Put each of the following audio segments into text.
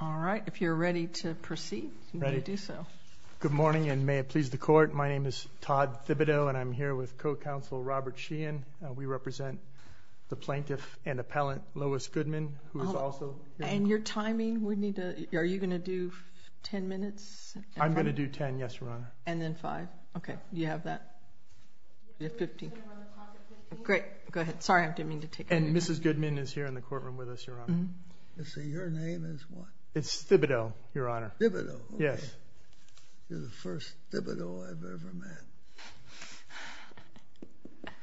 All right, if you're ready to proceed, you may do so. Good morning, and may it please the court. My name is Todd Thibodeau, and I'm here with co-counsel Robert Sheehan. We represent the plaintiff and appellant, Lois Goodman, who is also here. And your timing, we need to... Are you gonna do 10 minutes? I'm gonna do 10, yes, Your Honor. And then five. Okay, you have that. Great, go ahead. Sorry, I didn't mean to take your time. And Mrs. Goodman is here in the courtroom with us, Your Honor. Let's see, your name is what? It's Thibodeau, Your Honor. Thibodeau? Yes. You're the first Thibodeau I've ever met.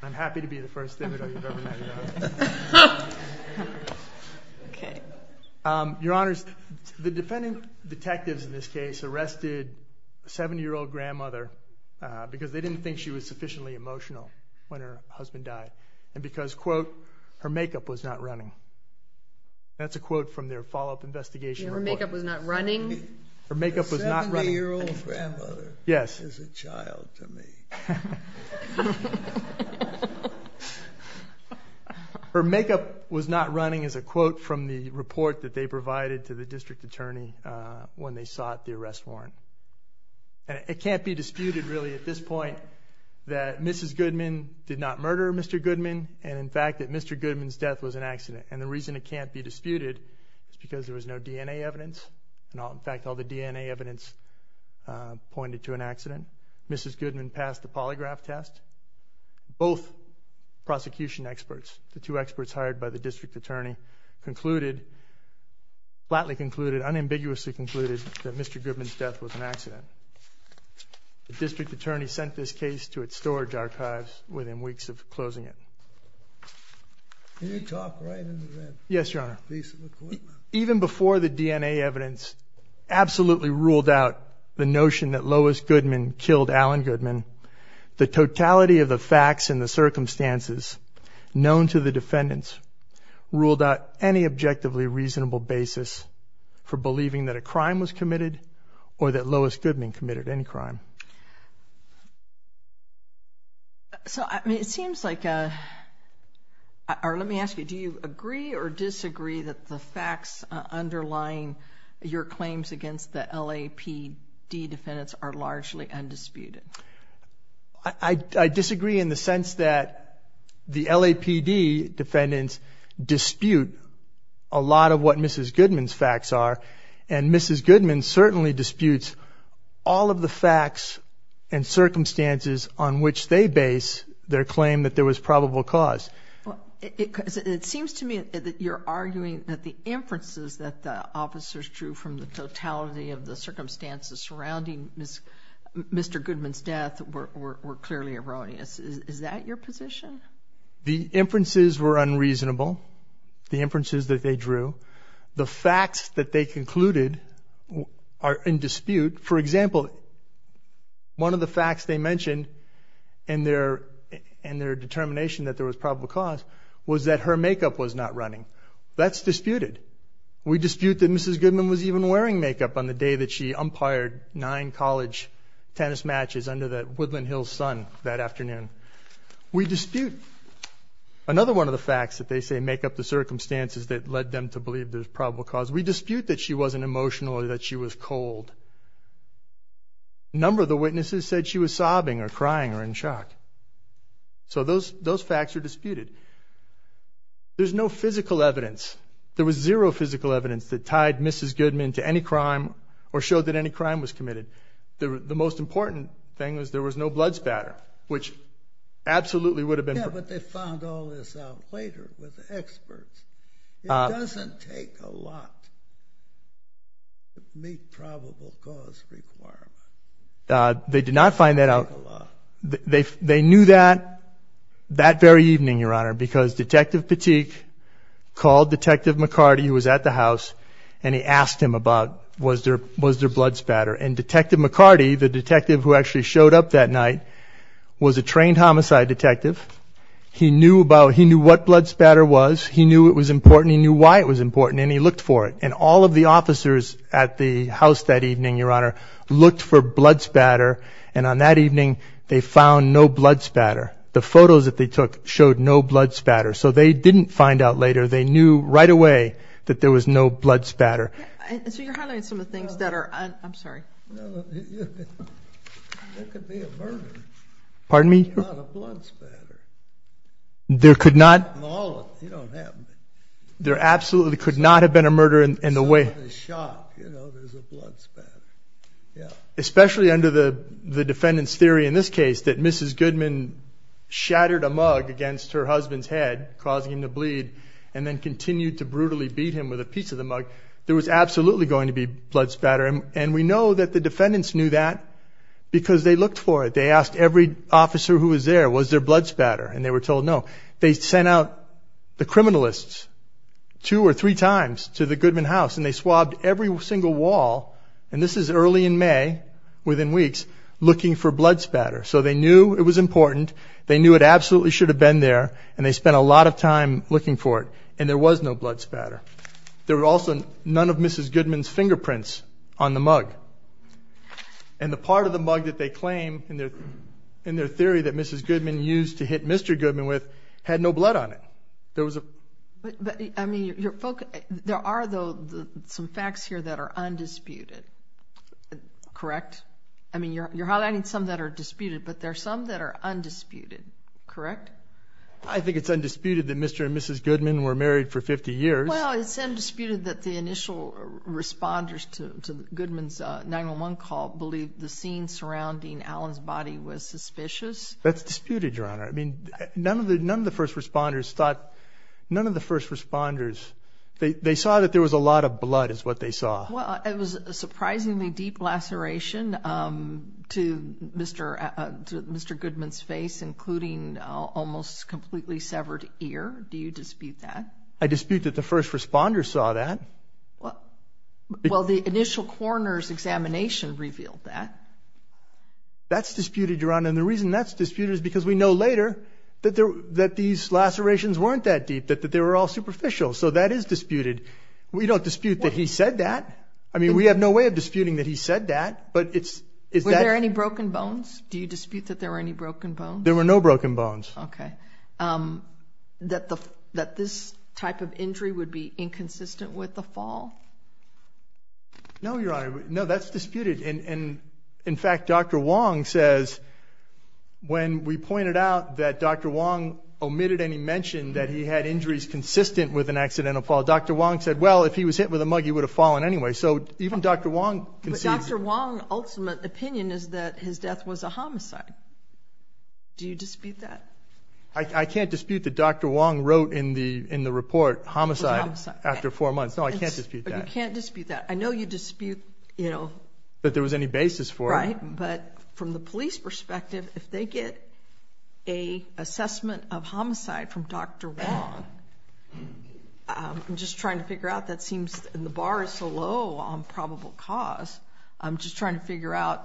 I'm happy to be the first Thibodeau you've ever met, Your Honor. Okay. Your Honors, the defendant detectives in this case arrested a 70 year old grandmother because they didn't think she was sufficiently emotional when her husband died, and because, her makeup was not running. That's a quote from their follow up investigation report. Her makeup was not running? Her makeup was not running. A 70 year old grandmother is a child to me. Yes. Her makeup was not running as a quote from the report that they provided to the district attorney when they sought the arrest warrant. And it can't be disputed really at this point that Mrs. Goodman did not murder Mr. Goodman. And in fact, that Mr. Goodman's death was an accident. And the reason it can't be disputed is because there was no DNA evidence. In fact, all the DNA evidence pointed to an accident. Mrs. Goodman passed the polygraph test. Both prosecution experts, the two experts hired by the district attorney, concluded, flatly concluded, unambiguously concluded, that Mr. Goodman's death was an accident. The district attorney sent this case to its storage archives within weeks of closing it. Can you talk right into that? Yes, Your Honor. Even before the DNA evidence absolutely ruled out the notion that Lois Goodman killed Alan Goodman, the totality of the facts and the circumstances known to the defendants ruled out any objectively reasonable basis for believing that a crime was committed or that Lois Goodman committed any crime. So, I mean, it seems like... Let me ask you, do you agree or disagree that the facts underlying your claims against the LAPD defendants are largely undisputed? I disagree in the sense that the LAPD defendants dispute a lot of what Mrs. Goodman's facts are, and Mrs. Goodman certainly disputes all of the facts and circumstances on which they base their claim that there was probable cause. It seems to me that you're arguing that the inferences that the officers drew from the totality of the circumstances surrounding Mr. Goodman's death were clearly erroneous. Is that your position? The inferences were unreasonable, the inferences that they drew. The facts that they concluded are in dispute. For example, one of the facts they mentioned in their determination that there was probable cause was that her makeup was not running. That's disputed. We dispute that Mrs. Goodman was even wearing makeup on the day that she umpired nine college tennis matches under the Woodland Hills sun that afternoon. We dispute another one of the facts that they say make up the circumstances that led them to believe there's probable cause. We dispute that she wasn't emotional or that she was cold. A number of the witnesses said she was sobbing or crying or in shock. So those those facts are disputed. There's no physical evidence. There was zero physical evidence that tied Mrs. Goodman to any crime or showed that any crime was committed. The most important thing was there was no blood spatter, which absolutely would have been. But they found all this out later with experts. It doesn't take a lot to meet probable cause requirement. Uh, they did not find that out. They knew that that very evening, Your Honor, because Detective Petit called Detective McCarty, who was at the house, and he asked him about was there was their who actually showed up that night was a trained homicide detective. He knew about he knew what blood spatter was. He knew it was important. He knew why it was important, and he looked for it. And all of the officers at the house that evening, Your Honor, looked for blood spatter. And on that evening, they found no blood spatter. The photos that they took showed no blood spatter, so they didn't find out later. They knew right away that there was no blood spatter. So you're highlighting some of the things that are I'm sorry. Pardon me. There could not. There absolutely could not have been a murder in the way shot. Yeah, especially under the defendant's theory in this case that Mrs Goodman shattered a mug against her husband's head, causing him to bleed and then absolutely going to be blood spatter. And we know that the defendants knew that because they looked for it. They asked every officer who was there was their blood spatter, and they were told no. They sent out the criminalists two or three times to the Goodman house, and they swabbed every single wall. And this is early in May within weeks looking for blood spatter. So they knew it was important. They knew it absolutely should have been there, and they spent a lot of time looking for it. And there was no blood spatter. There Mrs Goodman's fingerprints on the mug and the part of the mug that they claim in their in their theory that Mrs Goodman used to hit Mr Goodman with had no blood on it. There was a I mean, you're folk. There are, though, some facts here that are undisputed. Correct. I mean, you're you're highlighting some that are disputed, but there are some that are undisputed. Correct. I think it's undisputed that Mr and Mrs Goodman were married for 50 years. Well, it's undisputed that the initial responders to Goodman's 911 call believed the scene surrounding Alan's body was suspicious. That's disputed, Your Honor. I mean, none of the none of the first responders thought none of the first responders. They saw that there was a lot of blood is what they saw. Well, it was surprisingly deep laceration, um, to Mr Mr Goodman's face, including almost completely severed ear. Do you dispute that? I dispute that the first responders saw that. Well, the initial coroner's examination revealed that that's disputed, Your Honor. And the reason that's disputed is because we know later that that these lacerations weren't that deep, that they were all superficial. So that is disputed. We don't dispute that he said that. I mean, we have no way of disputing that he said that. But it's is there any broken bones? Do you dispute that there were any broken bones? There were no broken bones. Okay. Um, that the that this type of injury would be inconsistent with the fall? No, Your Honor. No, that's disputed. And in fact, Dr Wong says when we pointed out that Dr Wong omitted any mention that he had injuries consistent with an accidental fall, Dr Wong said, Well, if he was hit with a mug, he would have fallen anyway. So even Dr Wong, Dr Wong ultimate opinion is that his death was a homicide. Do you dispute that? I can't dispute the Dr Wong wrote in the in the report homicide after four months. No, I can't dispute that. You can't dispute that. I know you dispute, you know, that there was any basis for right. But from the police perspective, if they get a assessment of homicide from Dr Wong, I'm just trying to figure out that seems in the bar is so low on probable cause. I'm just trying to figure out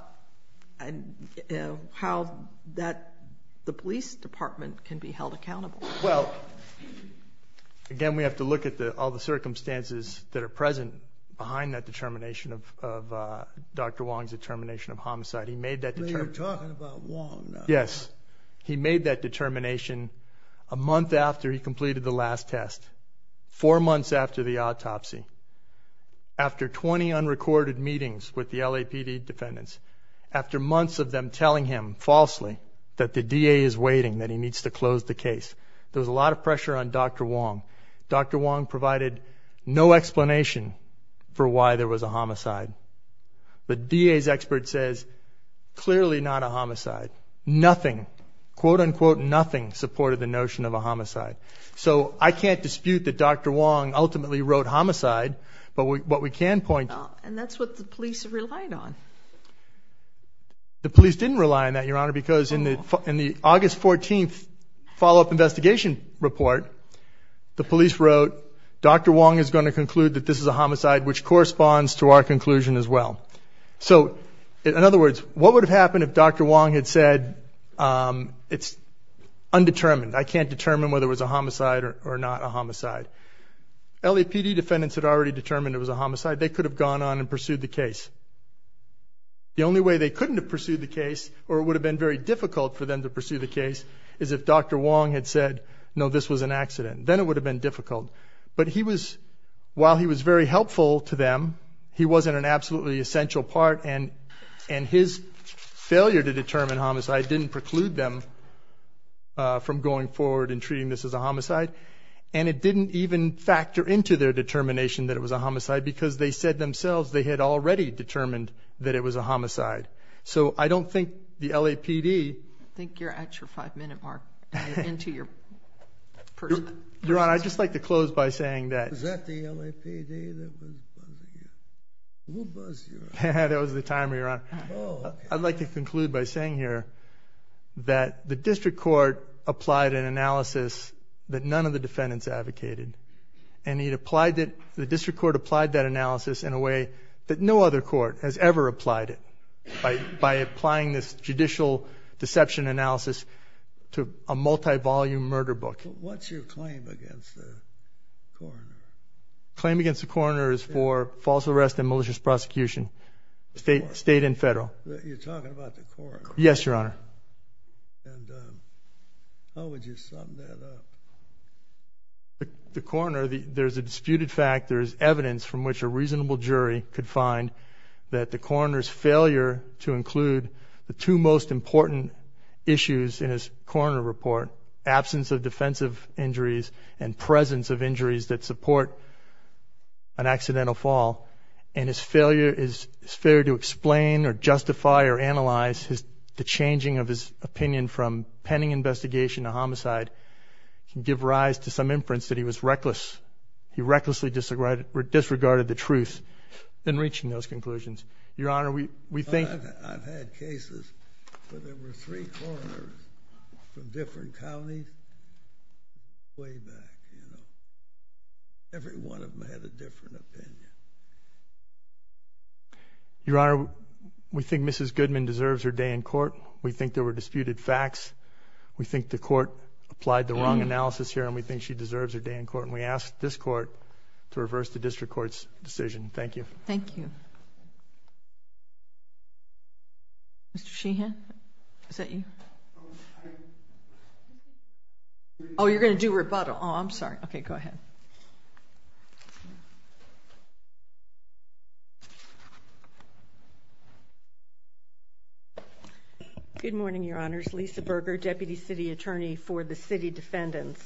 how that the police department can be held accountable. Well, again, we have to look at the all the circumstances that are present behind that determination of Dr Wong's determination of homicide. He made that you're talking about. Yes, he made that determination a month after he recorded meetings with the LAPD defendants after months of them telling him falsely that the D. A. Is waiting that he needs to close the case. There was a lot of pressure on Dr Wong. Dr Wong provided no explanation for why there was a homicide. But D. A.'s expert says clearly not a homicide. Nothing quote unquote nothing supported the notion of a homicide. So I can't dispute that Dr Wong ultimately wrote homicide. But what we can point and that's what the police have relied on. The police didn't rely on that, Your Honor, because in the in the August 14th follow up investigation report, the police wrote Dr Wong is going to conclude that this is a homicide, which corresponds to our conclusion as well. So in other words, what would have happened if Dr Wong had said, Um, it's undetermined. I can't determine whether it was a homicide or not a homicide. LAPD defendants had already determined it was a homicide. They could have gone on and pursued the case. The only way they couldn't have pursued the case or would have been very difficult for them to pursue the case is if Dr Wong had said no, this was an accident, then it would have been difficult. But he was while he was very helpful to them, he wasn't an absolutely essential part and and his failure to determine homicide didn't preclude them from going forward and treating this is a homicide. And it didn't even factor into their determination that it was a homicide because they said themselves they had already determined that it was a homicide. So I don't think the LAPD think you're at your five minute mark into your person, Your Honor. I just like to close by saying that that the LAPD will buzz. That was the time here on. I'd like to conclude by saying here that the district court applied an analysis that none of the defendants advocated and he applied it. The district court applied that analysis in a way that no other court has ever applied it by by applying this judicial deception analysis to a multi volume murder book. What's your claim against the claim against the coroner is for false arrest and malicious prosecution. State, state and federal. You're talking about the court. Yes, Your Honor. How would you sum that up? The corner. There's a disputed fact. There's evidence from which a reasonable jury could find that the corners failure to include the two most important issues in his corner report, absence of defensive injuries and presence of injuries that support an accidental fall and his failure is fair to explain or justify or analyze his changing of his opinion from pending investigation of homicide give rise to some inference that he was reckless. He recklessly disregarded disregarded the truth in reaching those conclusions. Your Honor, we we think I've had cases where there were three corners from different counties way back. Every one of them had a different opinion. Your Honor, we think Mrs Goodman deserves her day in court. We think there were disputed facts. We think the court applied the wrong analysis here and we think she deserves her day in court. And we asked this court to reverse the district court's decision. Thank you. Thank you. Mr Sheehan. Is that you? Oh, you're gonna do rebuttal. I'm sorry. Okay, go ahead. Good morning, Your Honor's Lisa Berger, deputy city attorney for the city defendants.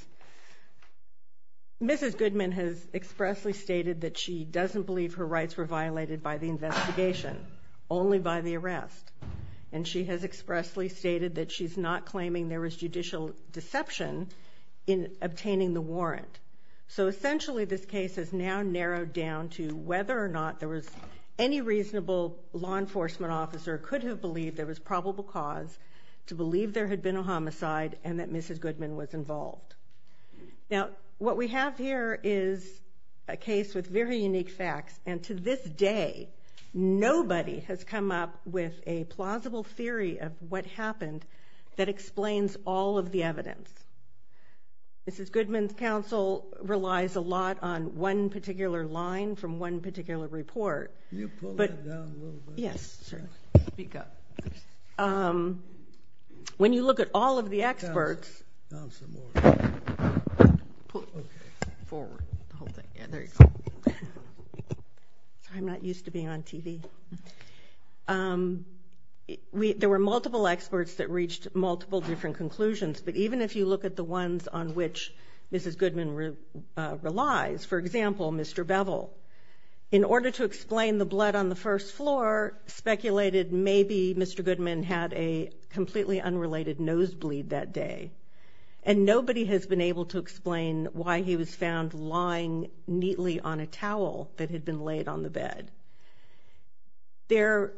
Mrs Goodman has expressly stated that she doesn't believe her rights were violated by the investigation only by the arrest. And she has expressly stated that she's not claiming there was judicial deception in obtaining the warrant. So essentially, this case is now narrowed down to whether or not there was any reasonable law enforcement officer could have believed there was probable cause to believe there had been a homicide and that Mrs Goodman was involved. Now, what we have here is a case with very unique facts. And to this day, nobody has come up with a plausible theory of what happened that explains all of the evidence. Mrs Goodman's counsel relies a lot on one particular line from one particular report. Can you pull that down a little bit? Yes, sir. Speak up. Um, when you look at all of the experts, put forward the whole thing. Yeah, there you go. I'm not used to being on TV. Um, there were multiple experts that reached multiple different conclusions. But even if you look at the ones on which Mrs Goodman relies, for example, Mr Bevel, in order to explain the blood on the first floor speculated, maybe Mr Goodman had a completely unrelated nose bleed that day, and nobody has been able to explain why he was found lying neatly on a towel that had been laid on the bed. There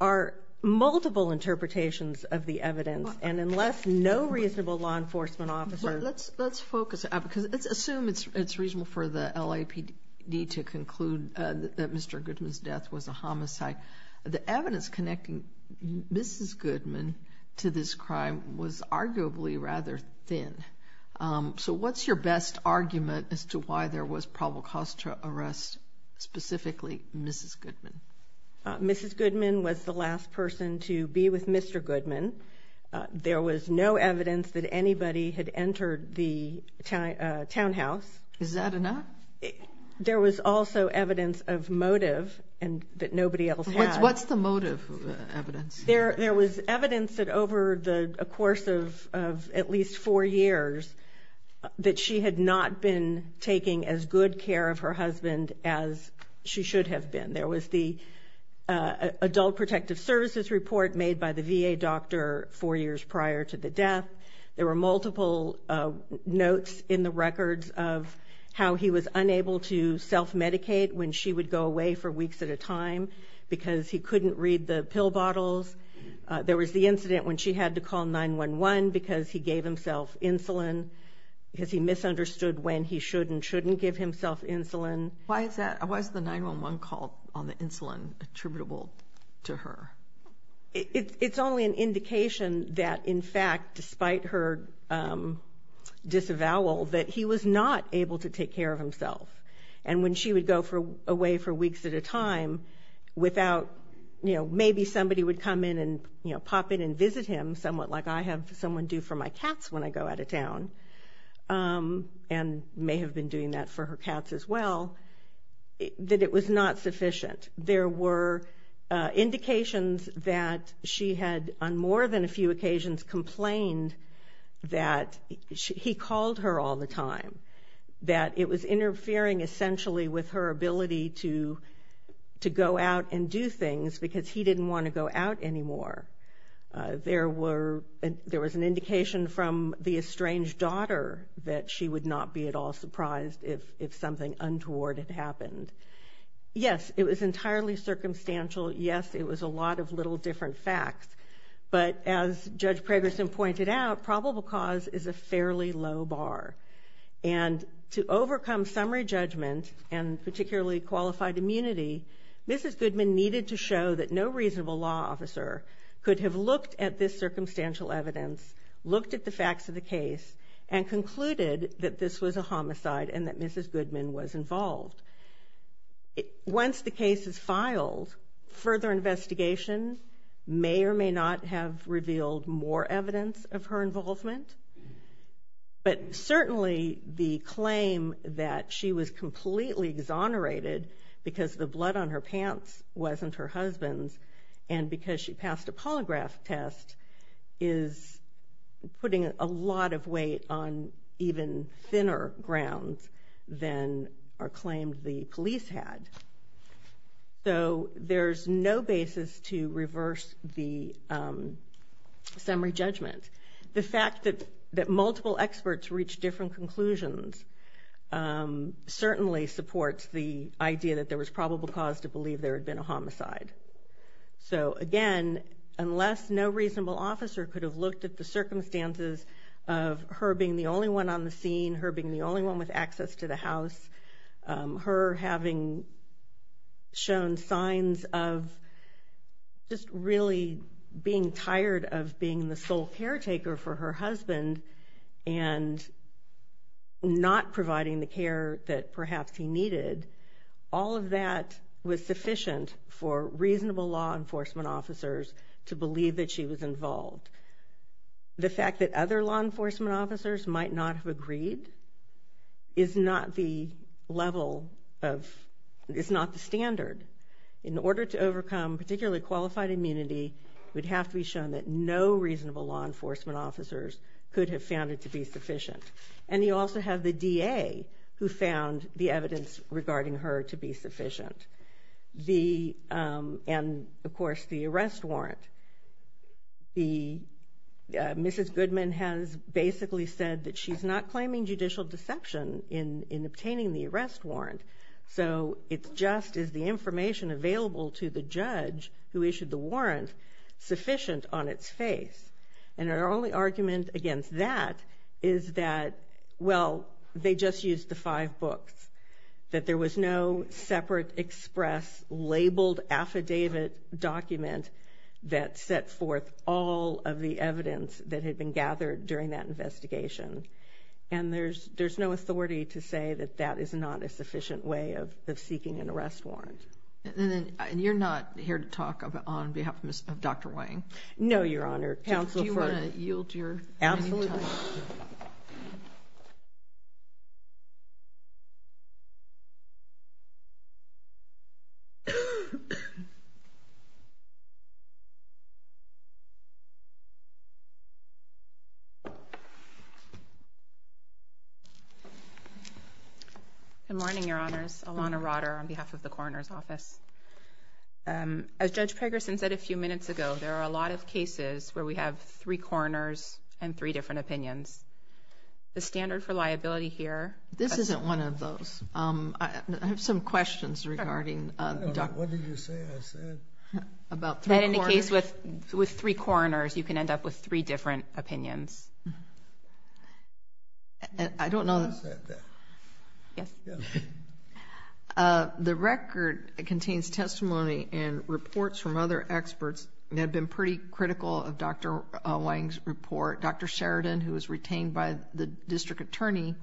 are multiple interpretations of the evidence. And unless no reasonable law enforcement officer, let's let's focus because assume it's reasonable for the LAPD to conclude that Mr Goodman's death was a homicide. The thin. Um, so what's your best argument as to why there was probable cost to arrest specifically Mrs Goodman? Mrs Goodman was the last person to be with Mr Goodman. There was no evidence that anybody had entered the townhouse. Is that enough? There was also evidence of motive and that nobody else. What's the motive evidence? There was evidence that over the course of at least four years that she had not been taking as good care of her husband as she should have been. There was the adult protective services report made by the V. A. Doctor four years prior to the death. There were multiple notes in the records of how he was unable to self medicate when she would go away for didn't read the pill bottles. There was the incident when she had to call 911 because he gave himself insulin because he misunderstood when he should and shouldn't give himself insulin. Why is that? Why is the 911 call on the insulin attributable to her? It's only an indication that, in fact, despite her, um, disavowal that he was not able to take care of himself. And when she would go for away for weeks at a time without, you know, maybe somebody would come in and, you know, pop in and visit him somewhat like I have someone do for my cats when I go out of town. Um, and may have been doing that for her cats as well, that it was not sufficient. There were indications that she had on more than a few occasions complained that he called her all the time, that it was interfering essentially with her ability to to go out and do things because he didn't want to go out anymore. There were, there was an indication from the estranged daughter that she would not be at all surprised if something untoward had happened. Yes, it was entirely circumstantial. Yes, it was a lot of little different facts. But as Judge Preggerson pointed out, probable cause is a fairly low bar. And to overcome summary judgment and particularly qualified immunity, Mrs. Goodman needed to show that no reasonable law officer could have looked at this circumstantial evidence, looked at the facts of the case and concluded that this was a homicide and that Mrs. Goodman was involved. Once the case is filed, further investigation may or may not have revealed more evidence of her involvement, but certainly the claim that she was completely exonerated because the blood on her pants wasn't her husband's and because she passed a polygraph test is putting a lot of weight on even thinner grounds than are claimed the police had. So there's no basis to reverse the summary judgment. The fact that multiple experts reached different conclusions certainly supports the idea that there was probable cause to believe there had been a homicide. So again, unless no reasonable officer could have looked at the circumstances of her being the only one on the scene, her being the only one with access to the house, her having shown signs of just really being tired of being the sole caretaker for her husband and not providing the care that perhaps he needed, all of that was sufficient for reasonable law enforcement officers to believe that she was involved. The fact that other law enforcement officers might not have agreed is not the level of, it's not the standard. In order to overcome particularly qualified immunity, it would have to be shown that no reasonable law enforcement officers could have found it to be sufficient. And you also have the DA who found the evidence regarding her to be sufficient. And of course the arrest warrant. Mrs. Goodman has basically said that she's not claiming judicial deception in obtaining the arrest warrant. So it's just, is the information available to the judge who issued the warrant sufficient on its face? And our only argument against that is that, well, they just used the five books. That there was no separate express labeled affidavit document that set forth all of the evidence that had been gathered during that investigation. And there's no authority to say that that is not a sufficient way of seeking an arrest warrant. And you're not here to talk on behalf of Dr. Wang? No, your Honor. Good morning, your Honors. Alana Rotter on behalf of the Coroner's Office. As Judge Pegerson said a few minutes ago, there are a lot of cases where we have three coroners and three different opinions. The standard for liability here... This isn't one of those. I have some questions regarding... What did you say I said? About three coroners? That in a case with three different opinions. I don't know. Yes. The record contains testimony and reports from other experts that have been pretty critical of Dr. Wang's report. Dr. Sheridan, who was retained by the district attorney,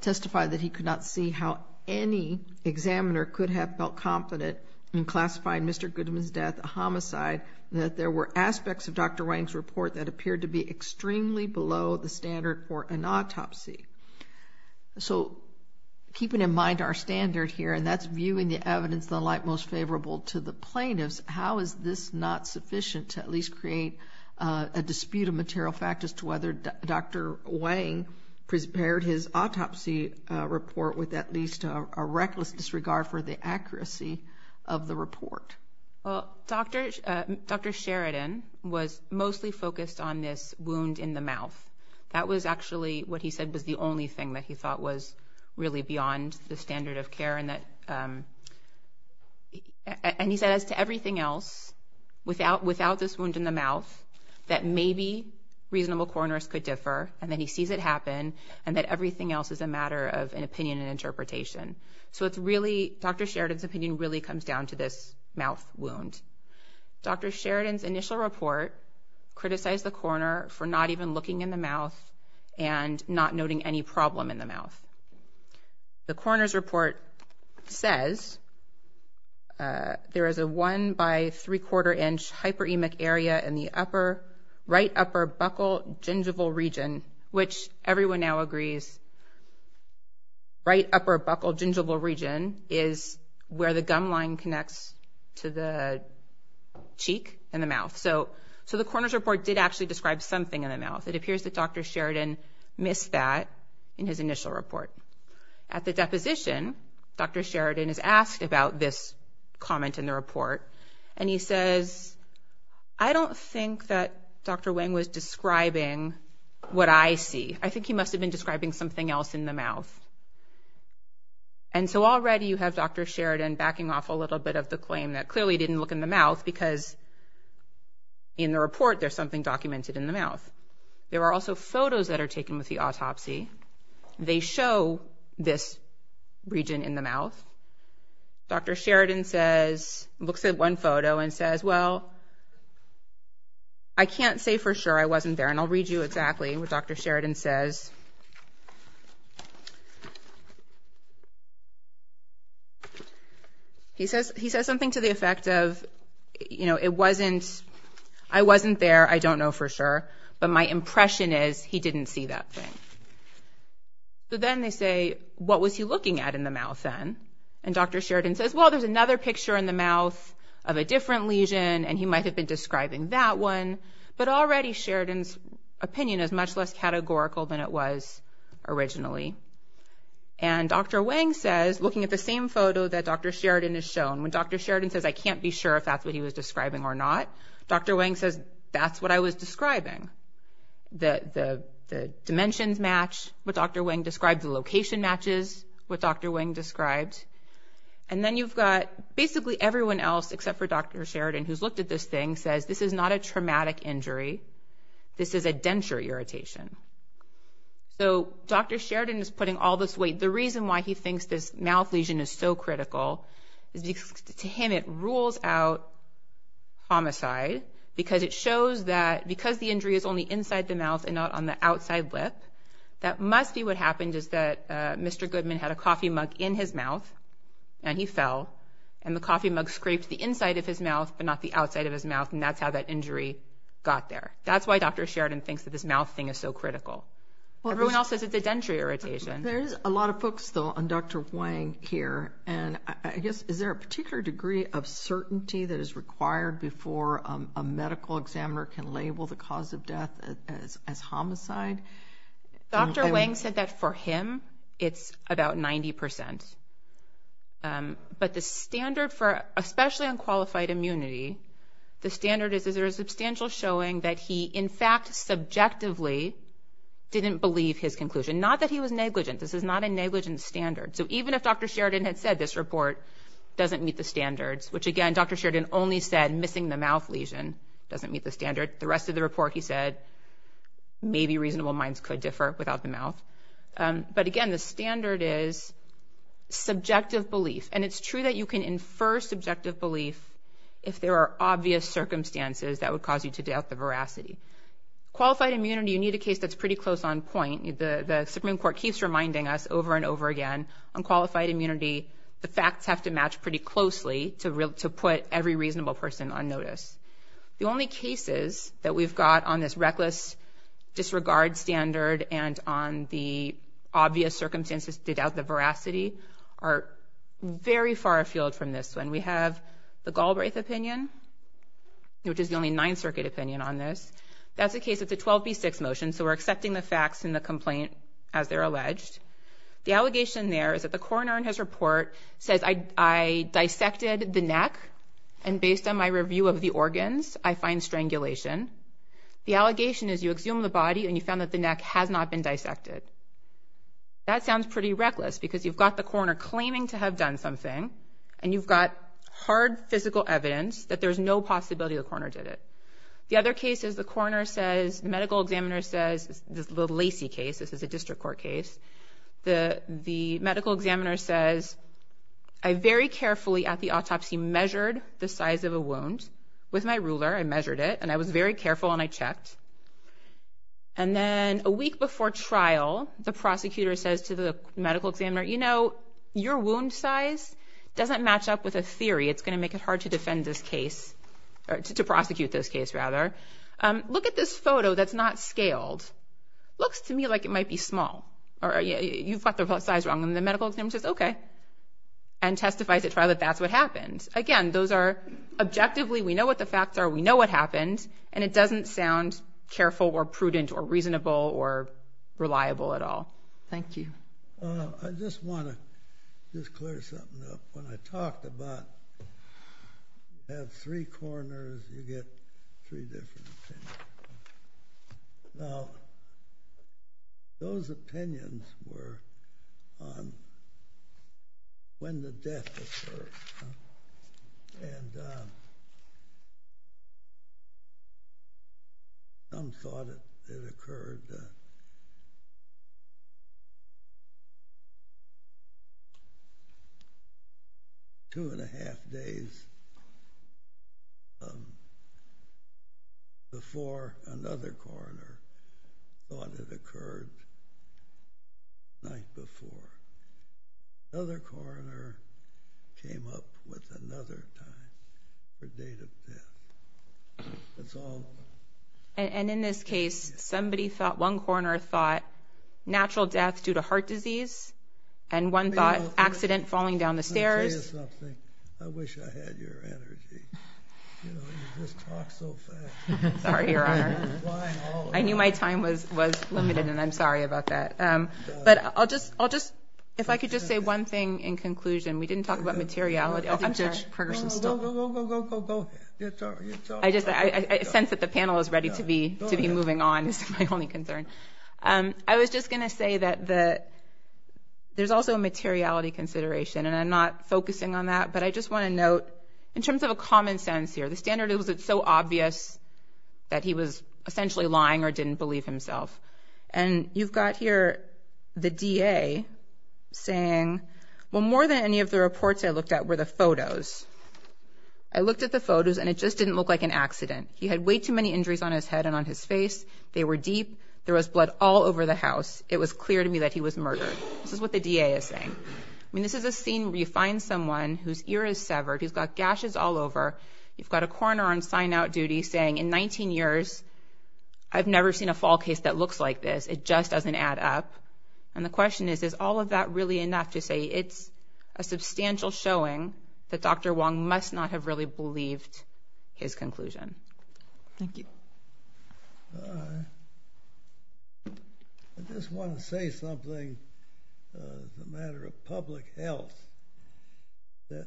testified that he could not see how any examiner could have felt confident in classifying Mr. Goodman's death a homicide, that there were aspects of Dr. Wang's report that appeared to be extremely below the standard for an autopsy. So, keeping in mind our standard here, and that's viewing the evidence the like most favorable to the plaintiffs, how is this not sufficient to at least create a dispute of material factors to whether Dr. Wang prepared his autopsy report with at least a reckless disregard for the accuracy of the report? Well, Dr. Sheridan was mostly focused on this wound in the mouth. That was actually what he said was the only thing that he thought was really beyond the standard of care, and that... And he said, as to everything else, without this wound in the mouth, that maybe reasonable coroners could differ, and then he sees it happen, and that everything else is a Dr. Sheridan's opinion really comes down to this mouth wound. Dr. Sheridan's initial report criticized the coroner for not even looking in the mouth and not noting any problem in the mouth. The coroner's report says, there is a 1 by 3 quarter inch hypoemic area in the upper right upper buccal gingival region, which everyone now agrees right upper buccal gingival region is where the gum line connects to the cheek and the mouth. So the coroner's report did actually describe something in the mouth. It appears that Dr. Sheridan missed that in his initial report. At the deposition, Dr. Sheridan is asked about this comment in the report, and he says, I don't think that Dr. Wang was describing what I see. I think he must have been describing something else in the mouth. And so already you have Dr. Sheridan backing off a little bit of the claim that clearly didn't look in the mouth because in the report there's something documented in the mouth. There are also photos that are taken with the autopsy. They show this region in the mouth. Dr. Sheridan says, looks at one photo and says, well I can't say for sure I wasn't there. And I'll read you exactly what Dr. Sheridan says. He says he says something to the effect of, you know, it wasn't, I wasn't there, I don't know for sure, but my impression is he didn't see that thing. So then they say, what was he looking at in the mouth then? And Dr. Sheridan says, well there's another picture in the mouth of a different lesion and he might have been describing that one, but already Sheridan's opinion is much less categorical than it was originally. And Dr. Wang says, looking at the same photo that Dr. Sheridan has shown, when Dr. Sheridan says I can't be sure if that's what he was describing or not, Dr. Wang says, that's what I was describing. Dimensions match what Dr. Wang described. The location matches what Dr. Wang described. And then you've got basically everyone else except for Dr. Sheridan who's looked at this thing says, this is not a traumatic injury, this is a denture irritation. So Dr. Sheridan is putting all this weight, the reason why he thinks this mouth lesion is so critical is because to him it rules out homicide because it shows that because the injury is only inside the mouth and not on the outside lip. That must be what happened is that Mr. Goodman had a coffee mug in his mouth and he fell and the coffee mug scraped the inside of his mouth but not the outside of his mouth and that's how that injury got there. That's why Dr. Sheridan thinks that this mouth thing is so critical. Everyone else says it's a denture irritation. There's a lot of focus though on Dr. Wang here and I guess is there a particular degree of certainty that is required before a homicide? Dr. Wang said that for him it's about 90%. But the standard for especially on qualified immunity, the standard is there is substantial showing that he in fact subjectively didn't believe his conclusion. Not that he was negligent, this is not a negligent standard. So even if Dr. Sheridan had said this report doesn't meet the standards, which again Dr. Sheridan only said missing the mouth lesion doesn't meet the standard, the rest of the report he said maybe reasonable minds could differ without the mouth. But again the standard is subjective belief and it's true that you can infer subjective belief if there are obvious circumstances that would cause you to doubt the veracity. Qualified immunity you need a case that's pretty close on point. The Supreme Court keeps reminding us over and over again on qualified immunity the facts have to match pretty closely to put every on this reckless disregard standard and on the obvious circumstances to doubt the veracity are very far afield from this one. We have the Galbraith opinion which is the only Ninth Circuit opinion on this. That's the case of the 12b6 motion so we're accepting the facts in the complaint as they're alleged. The allegation there is that the coroner in his report says I dissected the neck and based on my review of the organs I find strangulation. The allegation is you exhumed the body and you found that the neck has not been dissected. That sounds pretty reckless because you've got the coroner claiming to have done something and you've got hard physical evidence that there's no possibility the coroner did it. The other case is the coroner says, the medical examiner says, the Lacey case, this is a district court case, the the medical examiner says I very of a wound with my ruler I measured it and I was very careful and I checked and then a week before trial the prosecutor says to the medical examiner you know your wound size doesn't match up with a theory it's gonna make it hard to defend this case or to prosecute this case rather. Look at this photo that's not scaled. Looks to me like it might be small or yeah you've got the size wrong and the medical examiner says okay and testifies at trial that that's what happened. Again those are objectively we know what the facts are we know what happened and it doesn't sound careful or prudent or reasonable or reliable at all. Thank you. I just want to just clear something up. When I talked about you have three coroners you get three different opinions. Now those opinions were on when the death occurred. And some thought it occurred two and a half days before another coroner thought it occurred the night before. Another coroner came up with another time for date of death. And in this case somebody thought one coroner thought natural death due to I knew my time was was limited and I'm sorry about that. But I'll just I'll just if I could just say one thing in conclusion we didn't talk about materiality. I just I sense that the panel is ready to be to be moving on is my only concern. I was just gonna say that the there's also a materiality consideration and I'm not focusing on that but I just want to note in terms of common sense here the standard is it so obvious that he was essentially lying or didn't believe himself. And you've got here the DA saying well more than any of the reports I looked at were the photos. I looked at the photos and it just didn't look like an accident. He had way too many injuries on his head and on his face. They were deep. There was blood all over the house. It was clear to me that he was murdered. This is what the DA is saying. I mean this is a scene where you you've got a coroner on sign-out duty saying in 19 years I've never seen a fall case that looks like this. It just doesn't add up. And the question is is all of that really enough to say it's a substantial showing that Dr. Wong must not have really believed his conclusion. Thank you. I just want to say something as a matter of public health that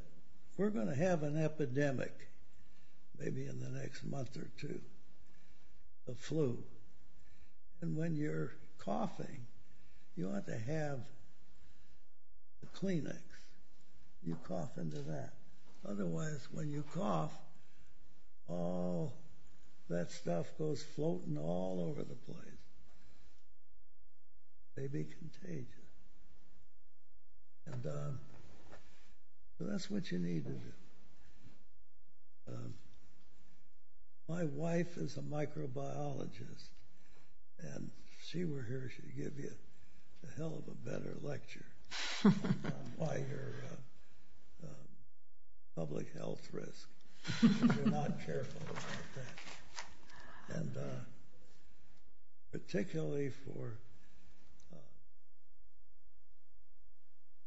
we're gonna have an epidemic maybe in the next month or two. A flu. And when you're coughing you ought to have a Kleenex. You cough into that. Otherwise when you cough that stuff goes floating all over the place. They be contagious. So that's what you need to do. My wife is a microbiologist and she rehearsed to give you a hell of a better lecture on why your public health risks. You're not careful about that. And particularly for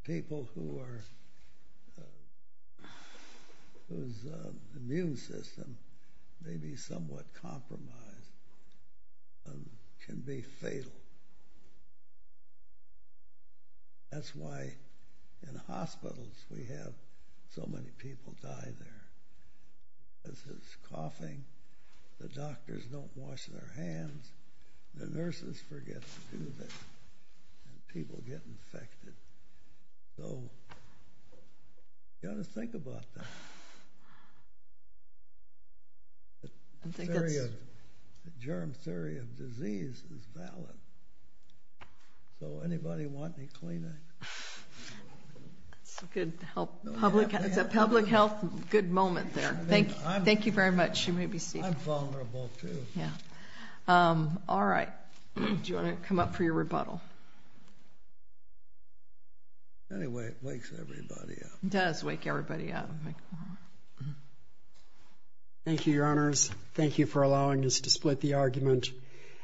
people who are whose immune system may be somewhat compromised and can be fatal. That's why in hospitals we have so many people die there. This is coughing. The doctors don't wash their hands. The nurses forget to do this. People get infected. So you got to think about that. The germ theory of disease is valid. So anybody want any Kleenex? It's a public health good moment there. Thank you very much. I'm vulnerable too. Alright. Do you want to come up for your rebuttal? Anyway it wakes everybody up. It does wake everybody up. Thank you your honors. Thank you for allowing us to split the argument.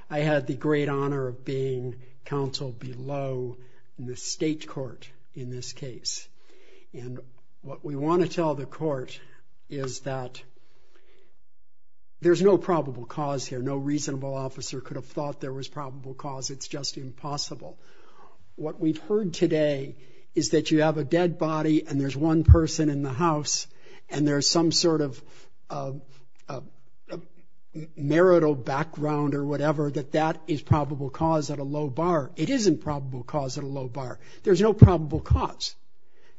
I had the great honor of being counseled below the state court in this case. What we want to tell the court is that there's no probable cause here. No reasonable officer could have thought there was probable cause. It's just impossible. What we've heard today is that you have a dead body and there's one person in the house and there's some sort of marital background or whatever that that is probable cause at a low bar. It isn't probable cause at a low bar. There's no probable cause.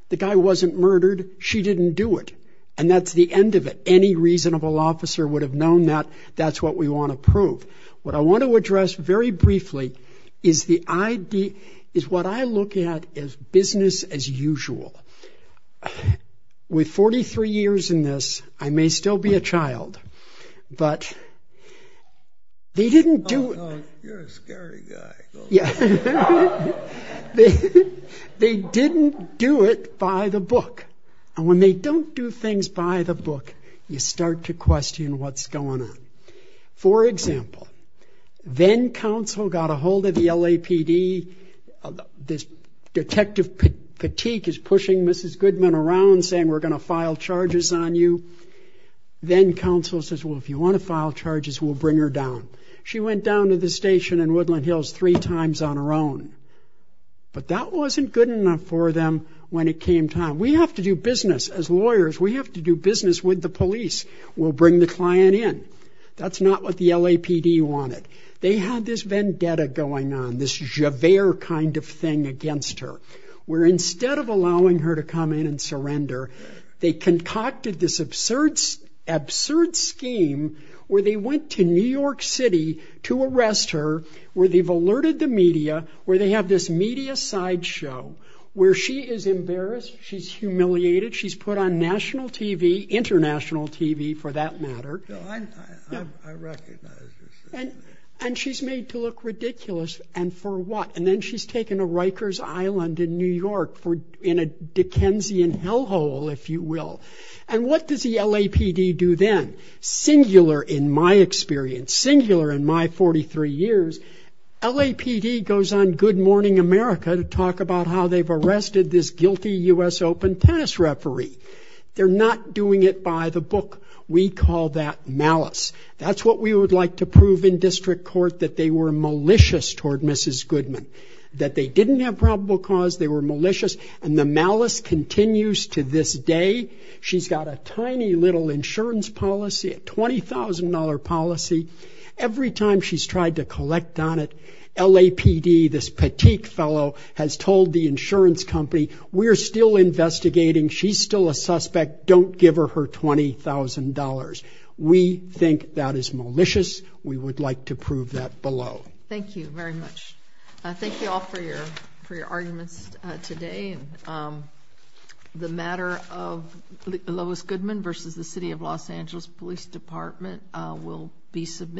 The guy wasn't murdered. She didn't do it. And that's the end of it. Any reasonable officer would have known that. That's what we want to prove. What I want to address very briefly is what I look at as business as usual. With 43 years in this, I may still be a child, but they didn't do it. You're a scary guy. They didn't do it by the book. And when they don't do things by the book, you start to question what's going on. For example, then counsel got a hold of the LAPD. This detective fatigue is pushing Mrs. Goodman around saying we're going to file charges on you. Then counsel says, well, if you want to file charges, we'll bring her down. She went down to the station in Woodland Hills three times on her own. But that wasn't good enough for them when it came time. We have to do business as lawyers. We have to do business with the police. We'll bring the client in. That's not what the LAPD wanted. They had this vendetta going on, this Javert kind of thing against her, where instead of allowing her to come in and surrender, they concocted this absurd scheme where they went to New York City to arrest her, where they've alerted the media, where they have this media sideshow where she is embarrassed, she's humiliated, she's put on national TV, international TV for that matter. I recognize this. And she's made to look ridiculous, and for what? And then she's taken to Rikers Island in New York in a Dickensian hellhole, if you will. And what does the LAPD do then? Singular in my experience, singular in my 43 years, LAPD goes on Good Morning America to talk about how they've arrested this guilty U.S. Open tennis referee. They're not doing it by the book. We call that malice. That's what we would like to prove in district court, that they were malicious toward Mrs. Goodman, that they didn't have probable cause, they were malicious. And the malice continues to this day. She's got a tiny little insurance policy, a $20,000 policy. Every time she's tried to collect on it, LAPD, this petite fellow, has told the insurance company, we're still investigating, she's still a suspect, don't give her her $20,000. We think that is malicious. We would like to prove that below. Thank you very much. Thank you all for your arguments today. The matter of Lois Goodman versus the City of Los Angeles Police Department will be submitted.